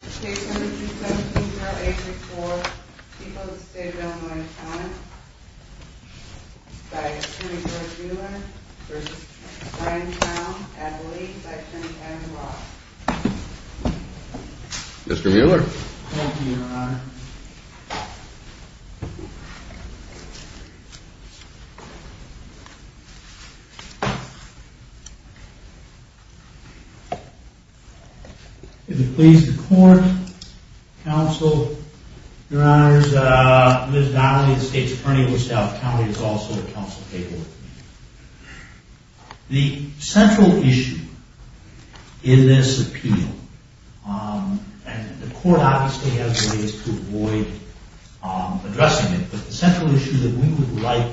617-0864, people of the state of Illinois-Towne by Attorney George Mueller v. Brian Towne, Attorney Section 10-1 Mr. Mueller Thank you, Your Honor If it pleases the court, counsel, Your Honors, Ms. Donnelly, the State's Attorney for South County, is also at counsel table The central issue in this appeal, and the court obviously has ways to avoid addressing it, but the central issue that we would like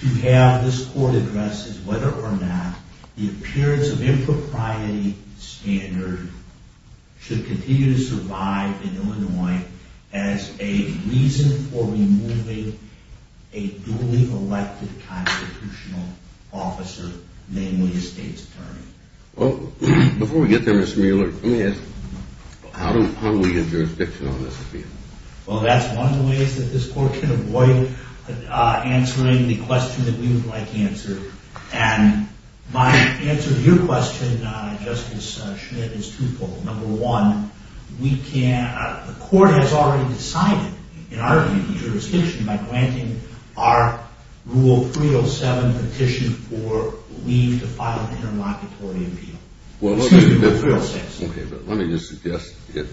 to have this court address is whether or not the appearance of impropriety standard should continue to survive in Illinois as a reason for removing a duly elected constitutional officer, namely a State's Attorney Before we get there, Mr. Mueller, let me ask, how do we get jurisdiction on this appeal? Well, that's one of the ways that this court can avoid answering the question that we would like answered. And my answer to your question, Justice Schmidt, is twofold. Number one, the court has already decided, in our view, the jurisdiction by granting our Rule 307 petition for leave to file an interlocutory appeal. Let me just suggest it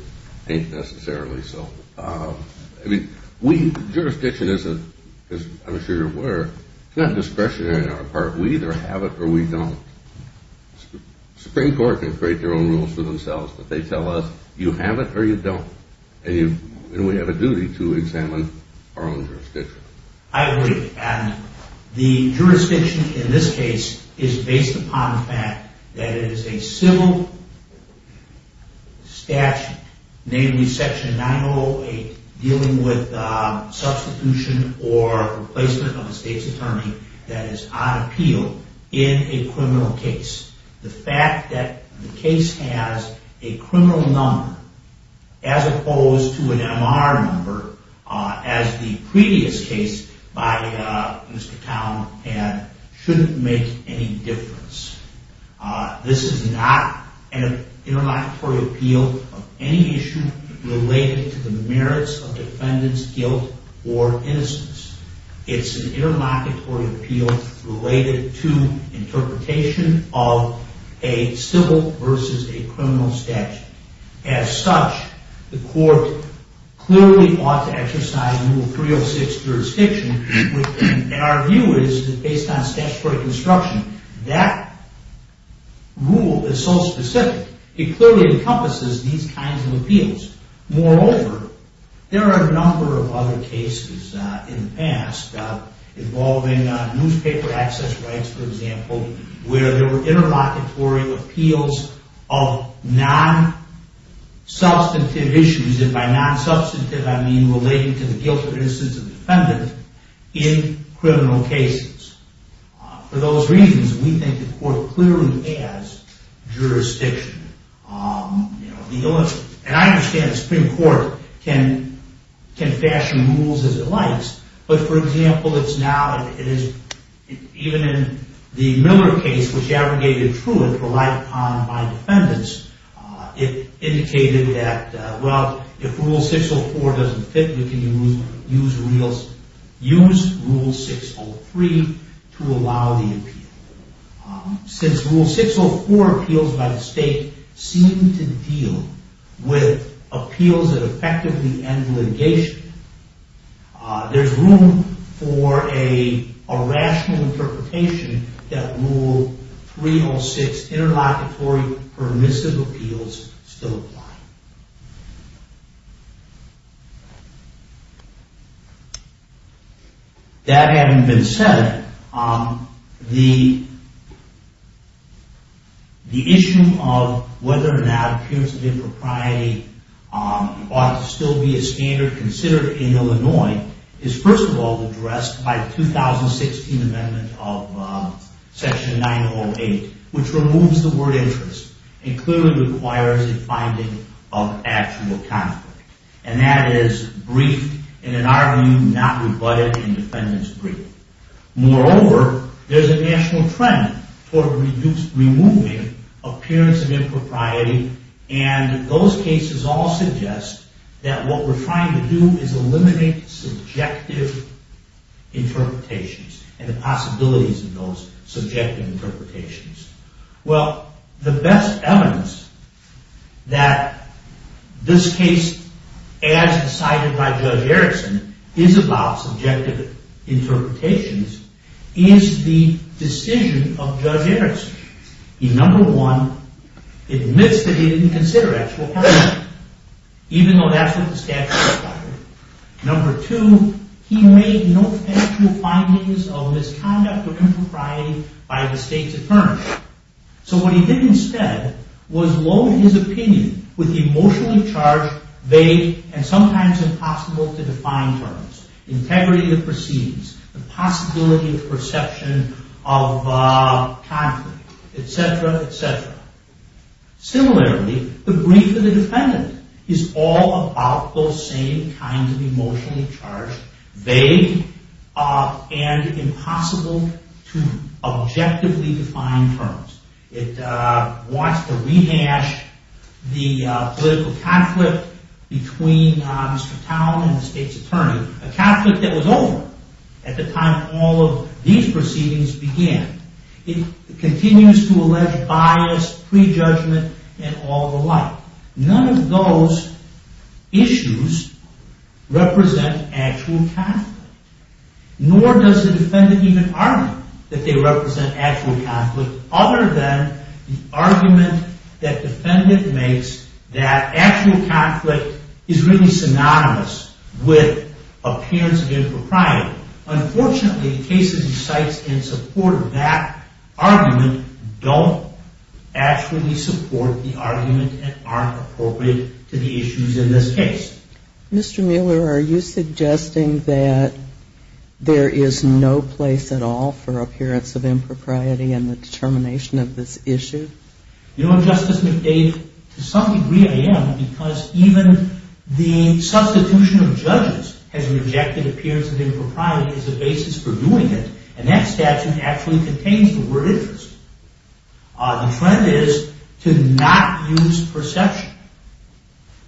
ain't necessarily so. Jurisdiction, as I'm sure you're aware, is not discretionary on our part. We either have it or we don't. The Supreme Court can create their own rules for themselves, but they tell us you have it or you don't. And we have a duty to examine our own jurisdiction. I agree. And the jurisdiction in this case is based upon the fact that it is a civil statute, namely Section 908, dealing with substitution or replacement of a State's Attorney that is on appeal in a criminal case. The fact that the case has a criminal number, as opposed to an MR number, as the previous case by Mr. Town had, shouldn't make any difference. This is not an interlocutory appeal of any issue related to the merits of defendant's guilt or innocence. It's an interlocutory appeal related to interpretation of a civil versus a criminal statute. As such, the court clearly ought to exercise Rule 306 jurisdiction, which, in our view, is based on statutory construction. That rule is so specific. It clearly encompasses these kinds of appeals. Moreover, there are a number of other cases in the past involving newspaper access rights, for example, where there were interlocutory appeals of non-substantive issues. And by non-substantive, I mean related to the guilt or innocence of the defendant in criminal cases. For those reasons, we think the court clearly has jurisdiction. And I understand the Supreme Court can fashion rules as it likes, but, for example, it's now, it is, even in the Miller case, which aggregated truth, relied upon by defendants, it indicated that, well, if Rule 604 doesn't fit, we can use Rule 603 to allow the appeal. Since Rule 604 appeals by the state seem to deal with appeals that effectively end litigation, there's room for a rational interpretation that Rule 306 interlocutory permissive appeals still apply. That having been said, the issue of whether or not appearance of impropriety ought to still be a standard considered in Illinois is, first of all, addressed by the 2016 Amendment of Section 908, which removes the word interest and clearly requires a finding of actual conflict. And that is briefed in an argument not rebutted in defendant's brief. Moreover, there's a national trend toward removing appearance of impropriety, and those cases all suggest that what we're trying to do is eliminate subjective interpretations and the possibilities of those subjective interpretations. Well, the best evidence that this case, as decided by Judge Erickson, is about subjective interpretations is the decision of Judge Erickson. He, number one, admits that he didn't consider actual conflict, even though that's what the statute required. Number two, he made no factual findings of misconduct or impropriety by the state's attorney. So what he did instead was load his opinion with emotionally charged, vague, and sometimes impossible to define terms. Integrity of proceedings, the possibility of perception of conflict, et cetera, et cetera. Similarly, the brief of the defendant is all about those same kinds of emotionally charged, vague, and impossible to objectively define terms. It wants to rehash the political conflict between Mr. Towne and the state's attorney, a conflict that was over at the time all of these proceedings began. It continues to allege bias, prejudgment, and all the like. None of those issues represent actual conflict, nor does the defendant even argue that they represent actual conflict, other than the argument that defendant makes that actual conflict is really synonymous with appearance of impropriety. Unfortunately, cases in sites in support of that argument don't actually support the argument and aren't appropriate to the issues in this case. Mr. Mueller, are you suggesting that there is no place at all for appearance of impropriety in the determination of this issue? You know, Justice McDade, to some degree I am, because even the substitution of judges has rejected appearance of impropriety as a basis for doing it, and that statute actually contains the word interest. The trend is to not use perception,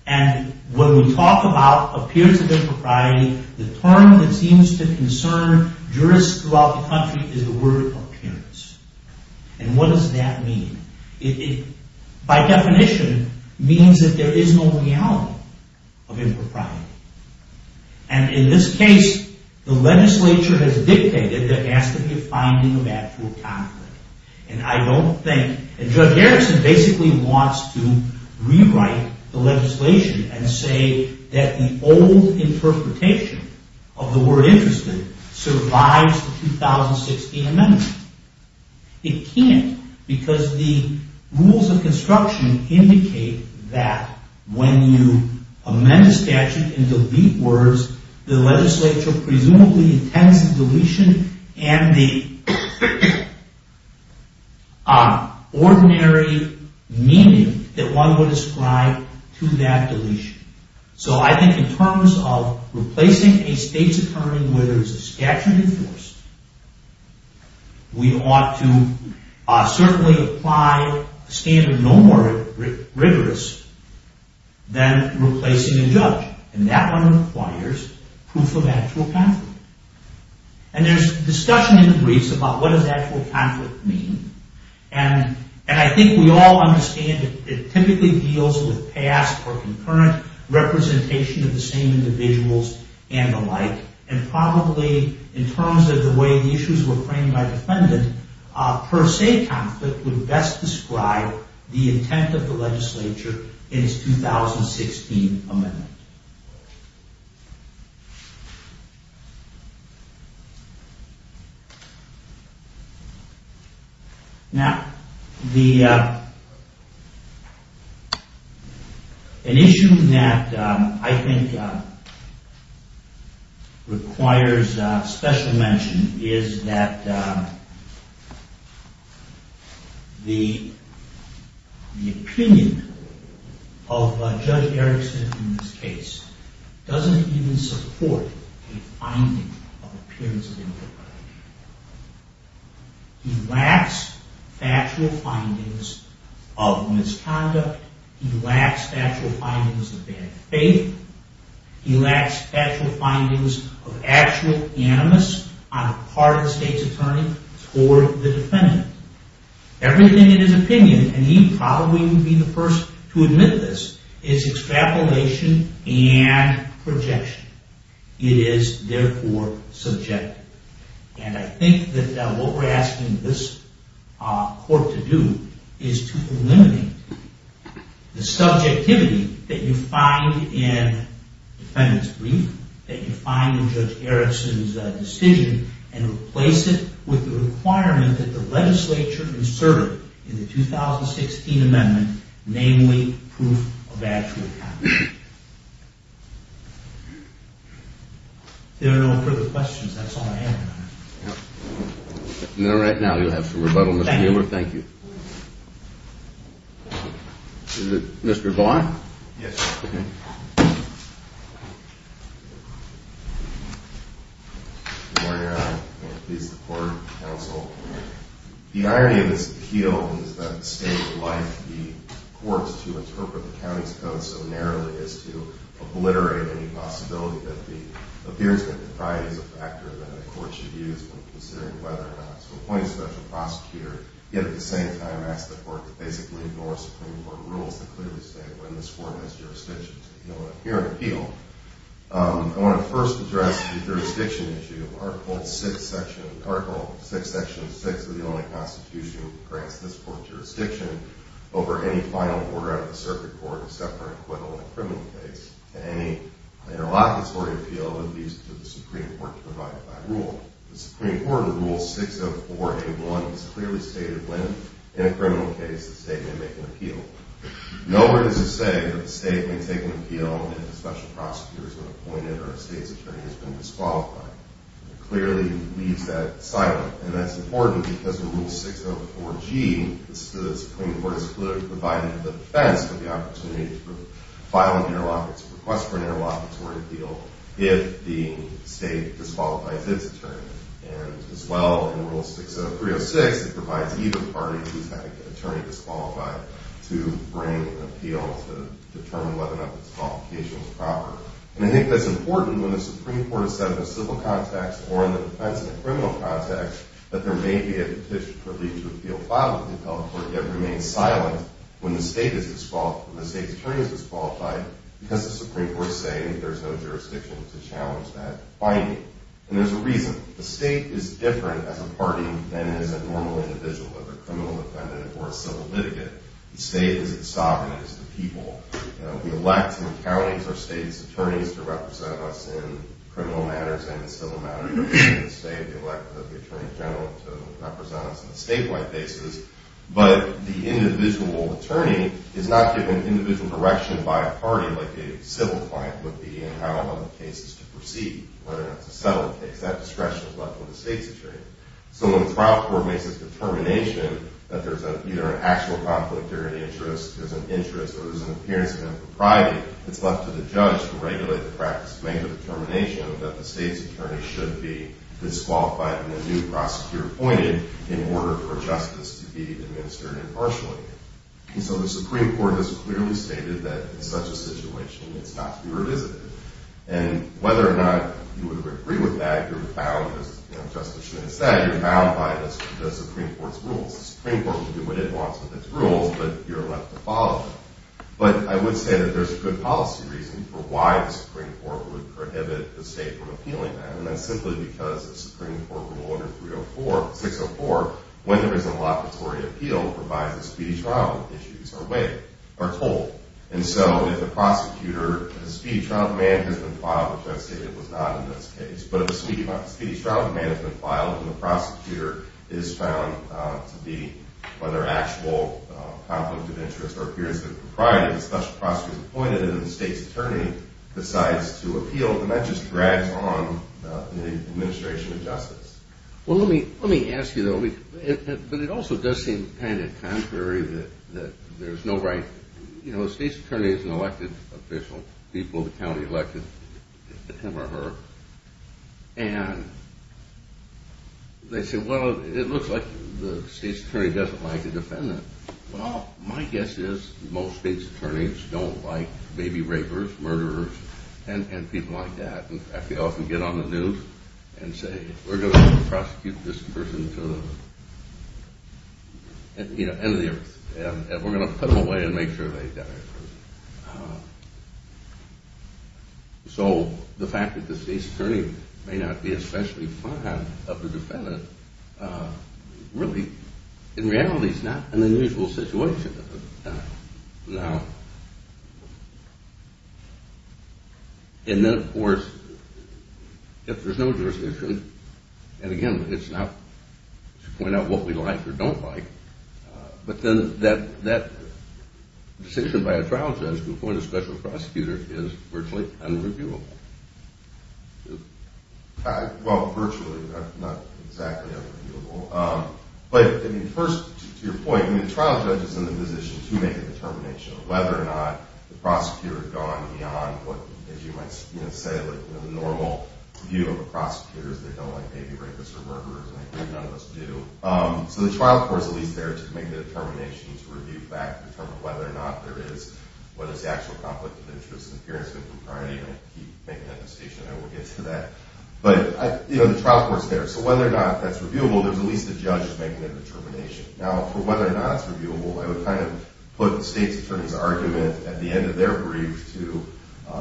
and when we talk about appearance of impropriety, the term that seems to concern jurists throughout the country is the word appearance. And what does that mean? It, by definition, means that there is no reality of impropriety. And in this case, the legislature has dictated that there has to be a finding of actual conflict. And I don't think, and Judge Harrison basically wants to rewrite the legislation and say that the old interpretation of the word interest survives the 2016 amendment. It can't, because the rules of construction indicate that when you amend a statute and delete words, the legislature presumably intends the deletion and the ordinary meaning that one would ascribe to that deletion. So I think in terms of replacing a state's attorney where there is a statute enforced, we ought to certainly apply a standard no more rigorous than replacing a judge, and that one requires proof of actual conflict. And there's discussion in the briefs about what does actual conflict mean, and I think we all understand it typically deals with past or concurrent representation of the same individuals and the like, and probably in terms of the way the issues were framed by defendant, per se conflict would best describe the intent of the legislature in its 2016 amendment. Now, an issue that I think requires special mention is that the opinion of Judge Erickson in this case, doesn't even support a finding of appearance of inappropriate behavior. He lacks factual findings of misconduct, he lacks factual findings of bad faith, he lacks factual findings of actual animus on the part of the state's attorney toward the defendant. Everything in his opinion, and he probably would be the first to admit this, is extrapolation and projection. It is therefore subjective. And I think that what we're asking this court to do is to eliminate the subjectivity that you find in the defendant's brief, that you find in Judge Erickson's decision, and replace it with the requirement that the legislature insert it in the 2016 amendment, namely, proof of actual conflict. If there are no further questions, that's all I have. No, right now you'll have some rebuttal, Mr. Mueller. Thank you. Is it Mr. Vaughn? Yes, sir. Good morning, Your Honor, and please support counsel. The irony of this appeal is that the state would like the courts to interpret the county's code so narrowly as to obliterate any possibility that the appearance of impropriety is a factor that the court should use when considering whether or not to appoint a special prosecutor, yet at the same time ask the court to basically ignore Supreme Court rules that clearly state when this court has jurisdiction to appeal an appeal. I want to first address the jurisdiction issue. Article 6, Section 6 of the Illinois Constitution grants this court jurisdiction over any final order out of the circuit court except for an acquittal in a criminal case, and any interlocutory appeal would be used to the Supreme Court to provide that rule. The Supreme Court Rule 604A1 has clearly stated when, in a criminal case, the state may make an appeal. Nowhere does it say that the state may take an appeal if a special prosecutor has been appointed or a state's attorney has been disqualified. It clearly leaves that silent, and that's important because in Rule 604G, the Supreme Court is clearly providing the defense for the opportunity to file an interlocutor, to request for an interlocutory appeal if the state disqualifies its attorney. And as well, in Rule 60306, it provides either party who's had an attorney disqualified to bring an appeal to determine whether or not the disqualification was proper. And I think that's important when the Supreme Court is set in a civil context or in the defense in a criminal context, that there may be a petition for a legal appeal filed with the appellate court, yet remain silent when the state is disqualified, when the state's attorney is disqualified, because the Supreme Court is saying there's no jurisdiction to challenge that finding. And there's a reason. The state is different as a party than it is a normal individual, whether a criminal defendant or a civil litigant. The state is its sovereignty. It's the people. We elect in the counties our state's attorneys to represent us in criminal matters and in civil matters. We elect the attorney general to represent us on a statewide basis. But the individual attorney is not given individual direction by a party like a civil client would be to proceed, whether or not to settle a case. That discretion is left with the state's attorney. So when the trial court makes its determination that there's either an actual conflict or an interest, there's an interest or there's an appearance of impropriety, it's left to the judge to regulate the practice to make a determination that the state's attorney should be disqualified and a new prosecutor appointed in order for justice to be administered impartially. And so the Supreme Court has clearly stated that in such a situation, it's not to be revisited. And whether or not you would agree with that, you're bound, as Justice Schmitt said, you're bound by the Supreme Court's rules. The Supreme Court can do what it wants with its rules, but you're left to follow them. But I would say that there's good policy reason for why the Supreme Court would prohibit the state from appealing that, and that's simply because the Supreme Court rule under 604, when there is an allocatory appeal, provides a speedy trial if issues are told. And so if the prosecutor, if a speedy trial demand has been filed, which I've stated was not in this case, but if a speedy trial demand has been filed and the prosecutor is found to be, whether actual conflict of interest or appearance of impropriety, the special prosecutor is appointed and the state's attorney decides to appeal, then that just drags on the administration of justice. Well, let me ask you, but it also does seem kind of contrary that there's no right, you know, the state's attorney is an elected official, people in the county elected him or her, and they say, well, it looks like the state's attorney doesn't like the defendant. Well, my guess is most state's attorneys don't like baby rapers, murderers, and people like that. They often get on the news and say, we're going to prosecute this person to the end of the earth, and we're going to put them away and make sure they die. So the fact that the state's attorney may not be especially fond of the defendant really, in reality, is not an unusual situation. Now, and then, of course, if there's no jurisdiction, and again, it's not to point out what we like or don't like, but then that decision by a trial judge to appoint a special prosecutor is virtually unreviewable. Well, virtually, not exactly unreviewable. But, I mean, first, to your point, the trial judge is in the position to make a determination of whether or not the prosecutor has gone beyond what, as you might say, the normal view of a prosecutor is they don't like baby rapists or murderers, and I think none of us do. So the trial court is at least there to make the determination, to review the fact, determine whether or not there is what is the actual conflict of interest and appearance of the crime, and you can keep making that decision, and we'll get to that. But, you know, the trial court's there. So whether or not that's reviewable, there's at least a judge making that determination. Now, for whether or not it's reviewable, I would kind of put the state's attorney's argument at the end of their brief to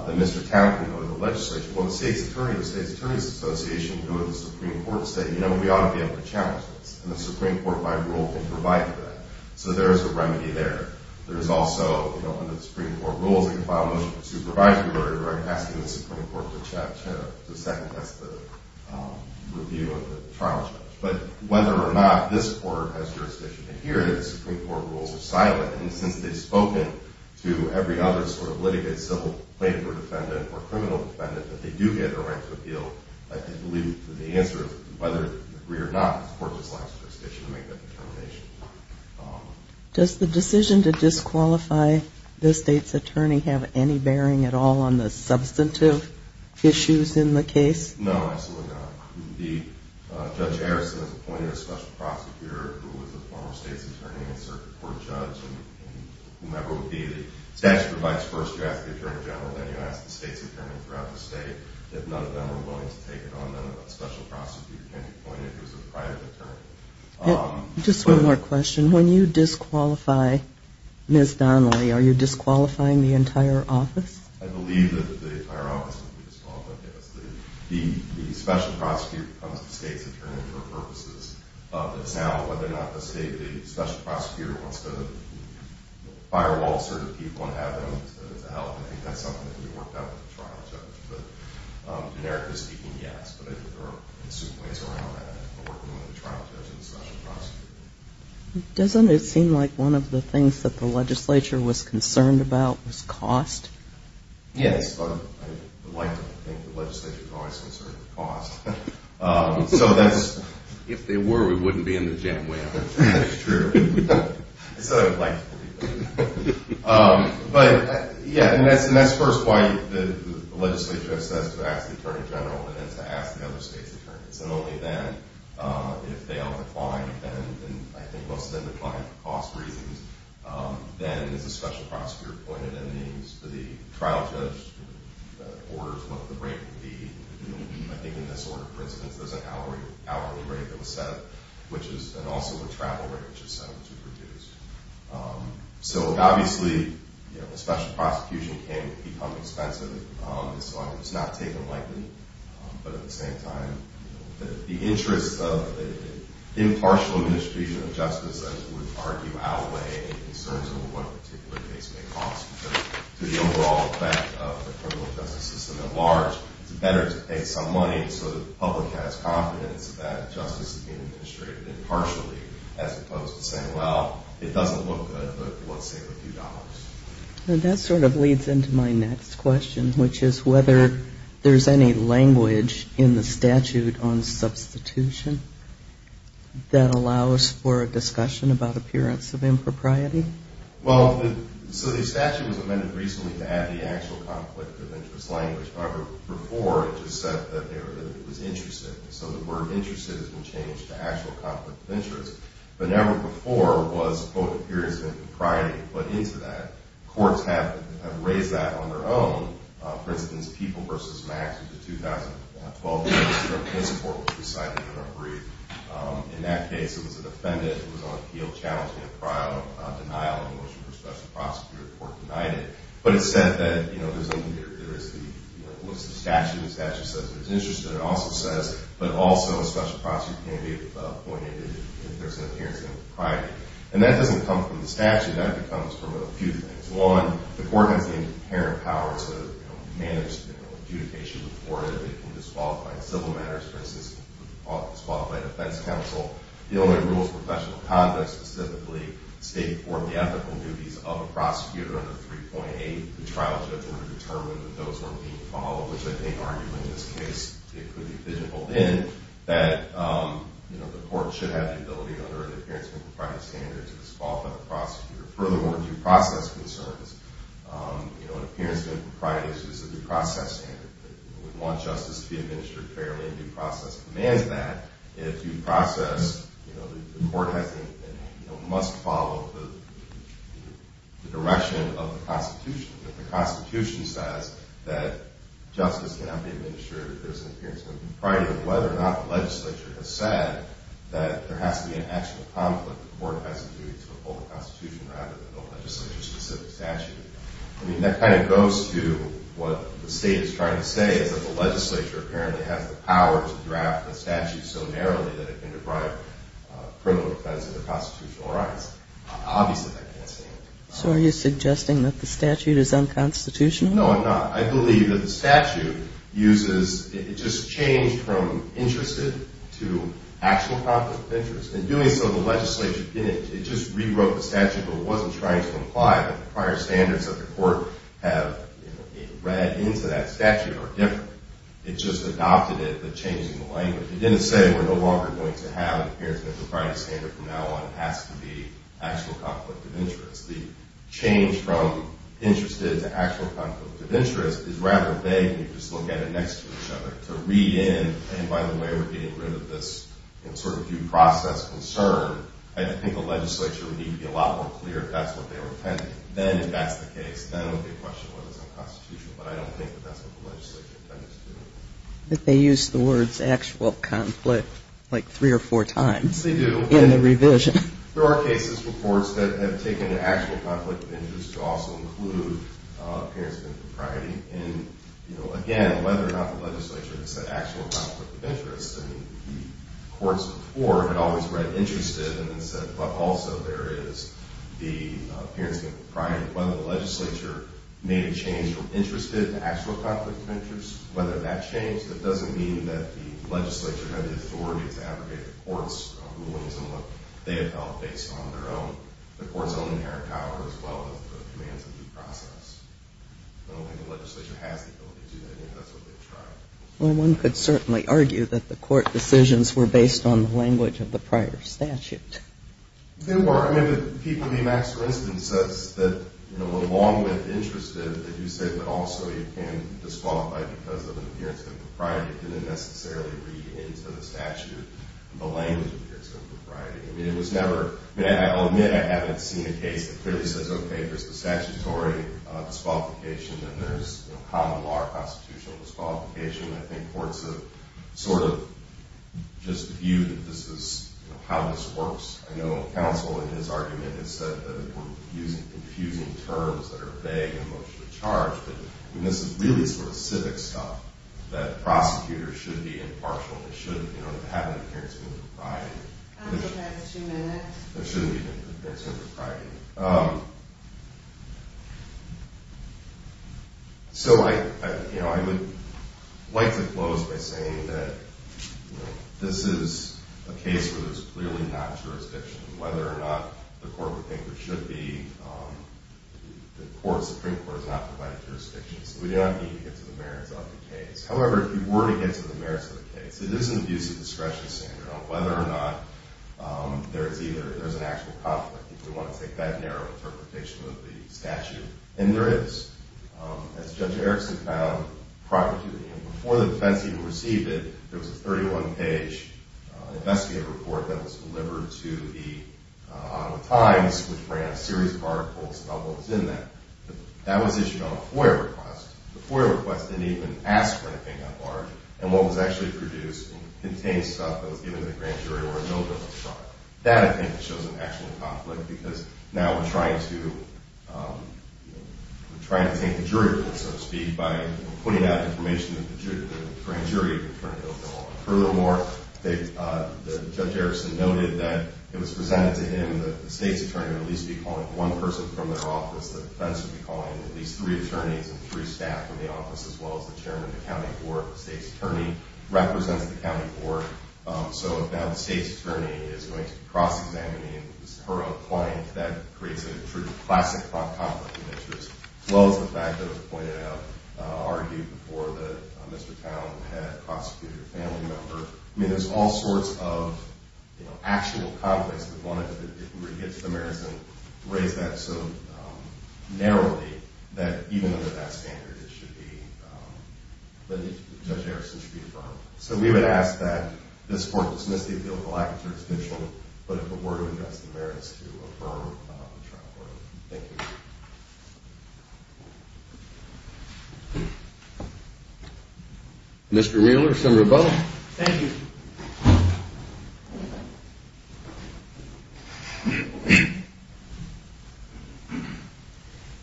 the Mr. Townsend or the legislature. Well, the state's attorney, the state's attorney's association, go to the Supreme Court and say, you know, we ought to be able to challenge this, and the Supreme Court, by rule, can provide for that. So there is a remedy there. There is also, you know, under the Supreme Court rules, you can file a motion for supervisory order by asking the Supreme Court to challenge it. That's the review of the trial judge. But whether or not this court has jurisdiction in here, the Supreme Court rules are silent. And since they've spoken to every other sort of litigate, civil plaintiff or defendant, or criminal defendant, that they do get a right to appeal, I believe the answer is whether you agree or not the court just lacks jurisdiction to make that determination. Does the decision to disqualify the state's attorney have any bearing at all on the substantive issues in the case? No, absolutely not. Judge Harrison appointed a special prosecutor who was a former state's attorney and circuit court judge, and whomever it would be, the statute provides first you ask the attorney general, then you ask the state's attorney throughout the state. If none of them are willing to take it on, then a special prosecutor can be appointed who is a private attorney. Just one more question. When you disqualify Ms. Donnelly, are you disqualifying the entire office? I believe that the entire office will be disqualified, yes. The special prosecutor becomes the state's attorney for purposes of the sale, whether or not the state, the special prosecutor, wants to firewall certain people and have them, I think that's something that can be worked out with the trial judge. Generically speaking, yes, but there are ways around that, but we're going to the trial judge and the special prosecutor. Doesn't it seem like one of the things that the legislature was concerned about was cost? Yes, but I would like to think the legislature is always concerned with cost. So that's, if they were, we wouldn't be in the jam way. That's true. That's what I would like to believe. But, yeah, and that's first why the legislature has to ask the attorney general and then to ask the other state's attorneys. And only then, if they all decline, and I think most of them declined for cost reasons, then is the special prosecutor appointed. That means the trial judge orders what the rate would be. I think in this order, for instance, there's an hourly rate that was set up, and also a travel rate which is set up to reduce. So, obviously, a special prosecution can become expensive. It's not taken lightly, but at the same time, the interest of impartial administration of justice, I would argue, outweigh concerns over what a particular case may cost. To the overall effect of the criminal justice system at large, it's better to pay some money so the public has confidence that justice is being administrated impartially as opposed to saying, well, it doesn't look good, but let's save a few dollars. And that sort of leads into my next question, which is whether there's any language in the statute on substitution that allows for a discussion about appearance of impropriety. Well, so the statute was amended recently to add the actual conflict of interest language. However, before, it just said that it was interested. So the word interested has been changed to actual conflict of interest. But never before was, quote, appearance of impropriety put into that. Courts have raised that on their own. For instance, People v. Max, which is a 2012 case, the Supreme Court was decided to not agree. In that case, it was a defendant who was on appeal challenging a prior denial of a motion for special prosecutor. The court denied it. But it said that, you know, there is the statute. The statute says there's interest in it. It also says, but also a special prosecutor can be appointed if there's an appearance of impropriety. And that doesn't come from the statute. That comes from a few things. One, the court has the inherent power to, you know, manage, you know, adjudication before it. It can disqualify civil matters. For instance, it can disqualify the defense counsel. It only rules professional conduct, specifically state or the ethical duties of a prosecutor under 3.8. The trial judge will determine that those are being followed, which I think arguably in this case it could be digital. Then that, you know, the court should have the ability under an appearance of impropriety standard to disqualify the prosecutor. Furthermore, due process concerns, you know, an appearance of impropriety is a due process standard. We want justice to be administered fairly, and due process commands that. And if due process, you know, the court has to, you know, must follow the direction of the Constitution. If the Constitution says that justice cannot be administered if there's an appearance of impropriety, then whether or not the legislature has said that there has to be an actual conflict, the court has a duty to uphold the Constitution rather than a legislature-specific statute. I mean, that kind of goes to what the state is trying to say, is that the legislature apparently has the power to draft the statute so narrowly that it can deprive criminal defense of their constitutional rights. Obviously, that can't stand. So are you suggesting that the statute is unconstitutional? No, I'm not. I believe that the statute uses, it just changed from interested to actual conflict of interest. In doing so, the legislature didn't, it just rewrote the statute, but it wasn't trying to imply that the prior standards that the court have read into that statute are different. It just adopted it, but changed the language. It didn't say we're no longer going to have It has to be actual conflict of interest. The change from interested to actual conflict of interest is rather vague, and you just look at it next to each other. To read in, and by the way, we're getting rid of this sort of due process concern, I think the legislature would need to be a lot more clear if that's what they were intending. Then, if that's the case, then it would be a question of whether it's unconstitutional, but I don't think that that's what the legislature intends to do. But they use the words actual conflict like three or four times. They do. In the revision. There are cases for courts that have taken an actual conflict of interest to also include appearance of impropriety. Again, whether or not the legislature has said actual conflict of interest. The courts before had always read interested and then said, but also there is the appearance of impropriety. Whether the legislature made a change from interested to actual conflict of interest, whether that changed, that doesn't mean that the legislature had the authority to abrogate the court's rulings and what they felt based on their own, the court's own inherent power as well as the commands of due process. I don't think the legislature has the ability to do that, and that's what they tried. Well, one could certainly argue that the court decisions were based on the language of the prior statute. They were. I mean, the people in the Maxwell incident says that along with interested, they do say that also you can disqualify because of an appearance of impropriety that didn't necessarily read into the statute the language of the appearance of impropriety. I mean, it was never. I'll admit I haven't seen a case that clearly says, OK, there's the statutory disqualification and there's common law or constitutional disqualification. I think courts have sort of just viewed that this is how this works. I know counsel in his argument has said that we're using confusing terms that are vague and emotionally charged. And this is really sort of civic stuff that prosecutors should be impartial. They shouldn't have an appearance of impropriety. I'm sorry, I have two minutes. There shouldn't be an appearance of impropriety. So I would likely close by saying that this is a case where there's clearly not jurisdiction. Whether or not the court would think that there should be, the Supreme Court has not provided jurisdiction. So we do not need to get to the merits of the case. However, if you were to get to the merits of the case, it is an abuse of discretion, Sandra, on whether or not there's an actual conflict, if you want to take that narrow interpretation of the statute. And there is. As Judge Erickson found prior to the hearing, before the defense even received it, there was a 31-page investigative report that was delivered to the Ottawa Times, which ran a series of articles about what was in that. That was issued on a FOIA request. The FOIA request didn't even ask for anything that large. And what was actually produced contained stuff that was given to the grand jury or a no-bills trial. That, I think, shows an actual conflict, because now we're trying to take the jury, so to speak, by putting out information that the grand jury could turn a no-bill on. Furthermore, Judge Erickson noted that it was presented to him that the state's attorney would at least be calling one person from their office. The defense would be calling at least three attorneys and three staff from the office, as well as the chairman of the county board. The state's attorney represents the county board. So now the state's attorney is going to be cross-examining her own client. That creates a true classic conflict in this case, as well as the fact that it was pointed out, argued before that Mr. Town had prosecuted a family member. I mean, there's all sorts of actual conflicts with one another. If we were to get to the merits and raise that so narrowly, that even under that standard, it should be, that Judge Erickson should be affirmed. So we would ask that this court dismiss the appeal of the lack of circumstantial, but if it were to address the merits, to affirm the trial court. Thank you. Mr. Mueller, Senator Boehme. Thank you.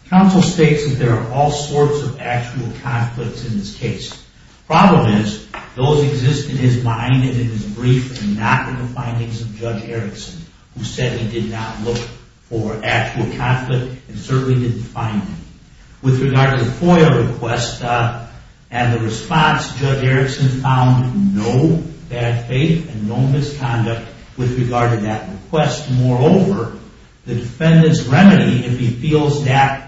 Counsel states that there are all sorts of actual conflicts in this case. Problem is, those exist in his mind and in his brief and not in the findings of Judge Erickson, who said he did not look for actual conflict and certainly didn't find any. With regard to the FOIA request and the response, Judge Erickson found no bad faith and no misconduct with regard to that request. Moreover, the defendant's remedy, if he feels that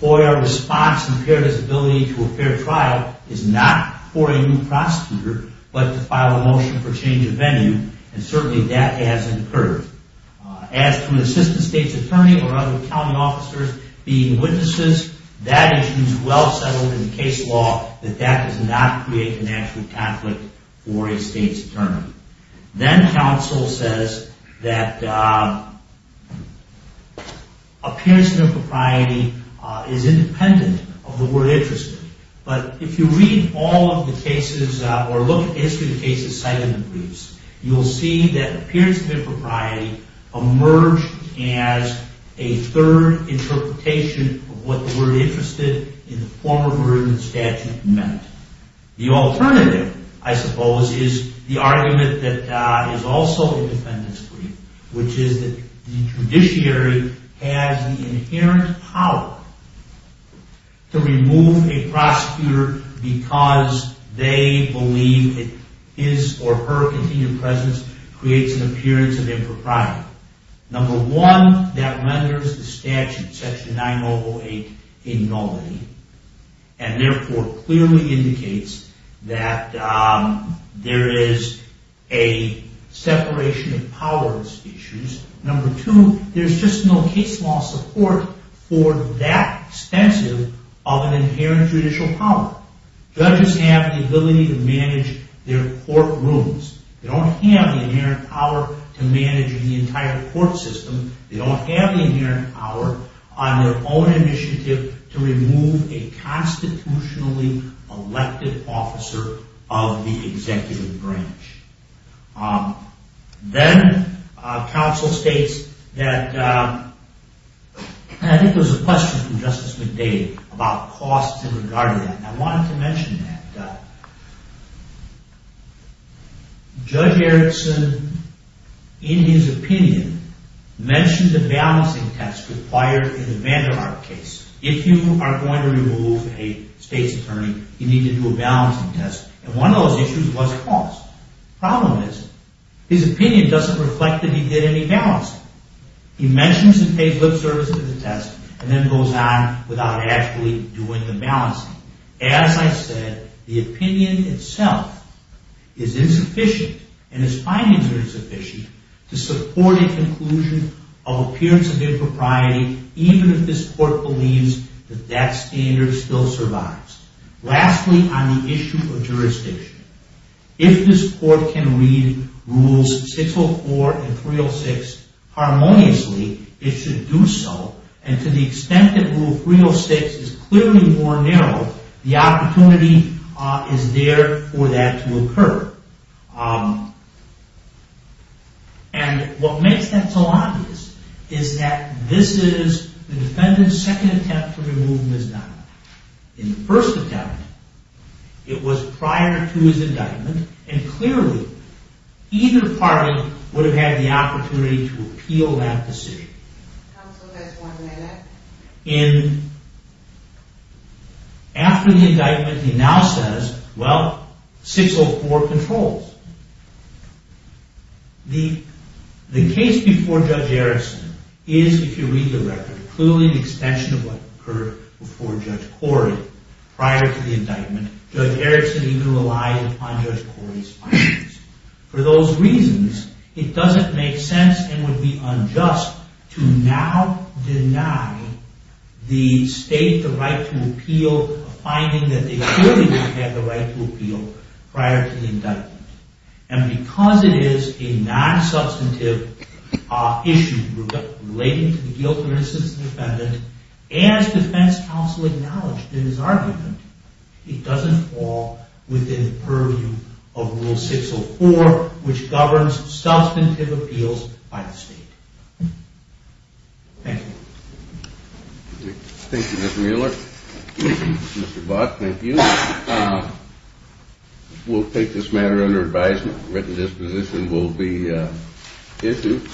FOIA response impaired his ability to a fair trial, is not for a new prosecutor, but to file a motion for change of venue, and certainly that hasn't occurred. As to an assistant state's attorney or other county officers being witnesses, that issue is well settled in the case law that that does not create an actual conflict for a state's attorney. Then counsel says that appearance of impropriety is independent of the word interested, but if you read all of the cases or look at the history of the cases cited in the briefs, you will see that appearance of impropriety emerged as a third interpretation of what the word interested in the form of a written statute meant. The alternative, I suppose, is the argument that is also in the defendant's brief, which is that the judiciary has the inherent power to remove a prosecutor because they believe that his or her continued presence creates an appearance of impropriety. Number one, that renders the statute, Section 9008, a nullity and therefore clearly indicates that there is a separation of powers issues. Number two, there's just no case law support for that extensive of an inherent judicial power. Judges have the ability to manage their courtrooms. They don't have the inherent power to manage the entire court system. They don't have the inherent power on their own initiative to remove a constitutionally elected officer of the executive branch. Then counsel states that, I think there was a question from Justice McDade about costs in regard to that. I wanted to mention that. Judge Erickson, in his opinion, mentioned the balancing test required in the Vander Ark case. If you are going to remove a state's attorney, you need to do a balancing test. And one of those issues was cost. Problem is, his opinion doesn't reflect that he did any balancing. He mentions and pays lip service to the test and then goes on without actually doing the balancing. As I said, the opinion itself is insufficient and his findings are insufficient to support a conclusion of appearance of impropriety, even if this court believes that that standard still survives. Lastly, on the issue of jurisdiction. If this court can read Rules 604 and 306 harmoniously, it should do so. And to the extent that Rule 306 is clearly more narrow, the opportunity is there for that to occur. And what makes that so obvious is that this is the defendant's second attempt to remove Ms. Diamond. In the first attempt, it was prior to his indictment, and clearly, either party would have had the opportunity to appeal that decision. Counsel, just one minute. After the indictment, he now says, well, 604 controls. The case before Judge Erickson is, if you read the record, clearly an extension of what occurred before Judge Corey. Prior to the indictment, Judge Erickson even relied upon Judge Corey's findings. For those reasons, it doesn't make sense and would be unjust to now deny the state the right to appeal a finding that they clearly would have the right to appeal prior to the indictment. And because it is a non-substantive issue relating to the guilt or innocence of the defendant, as defense counsel acknowledged in his argument, it doesn't fall within the purview of Rule 604, which governs substantive appeals by the state. Thank you. Thank you, Mr. Mueller. Mr. Bott, thank you. We'll take this matter under advisement. A written disposition will be issued.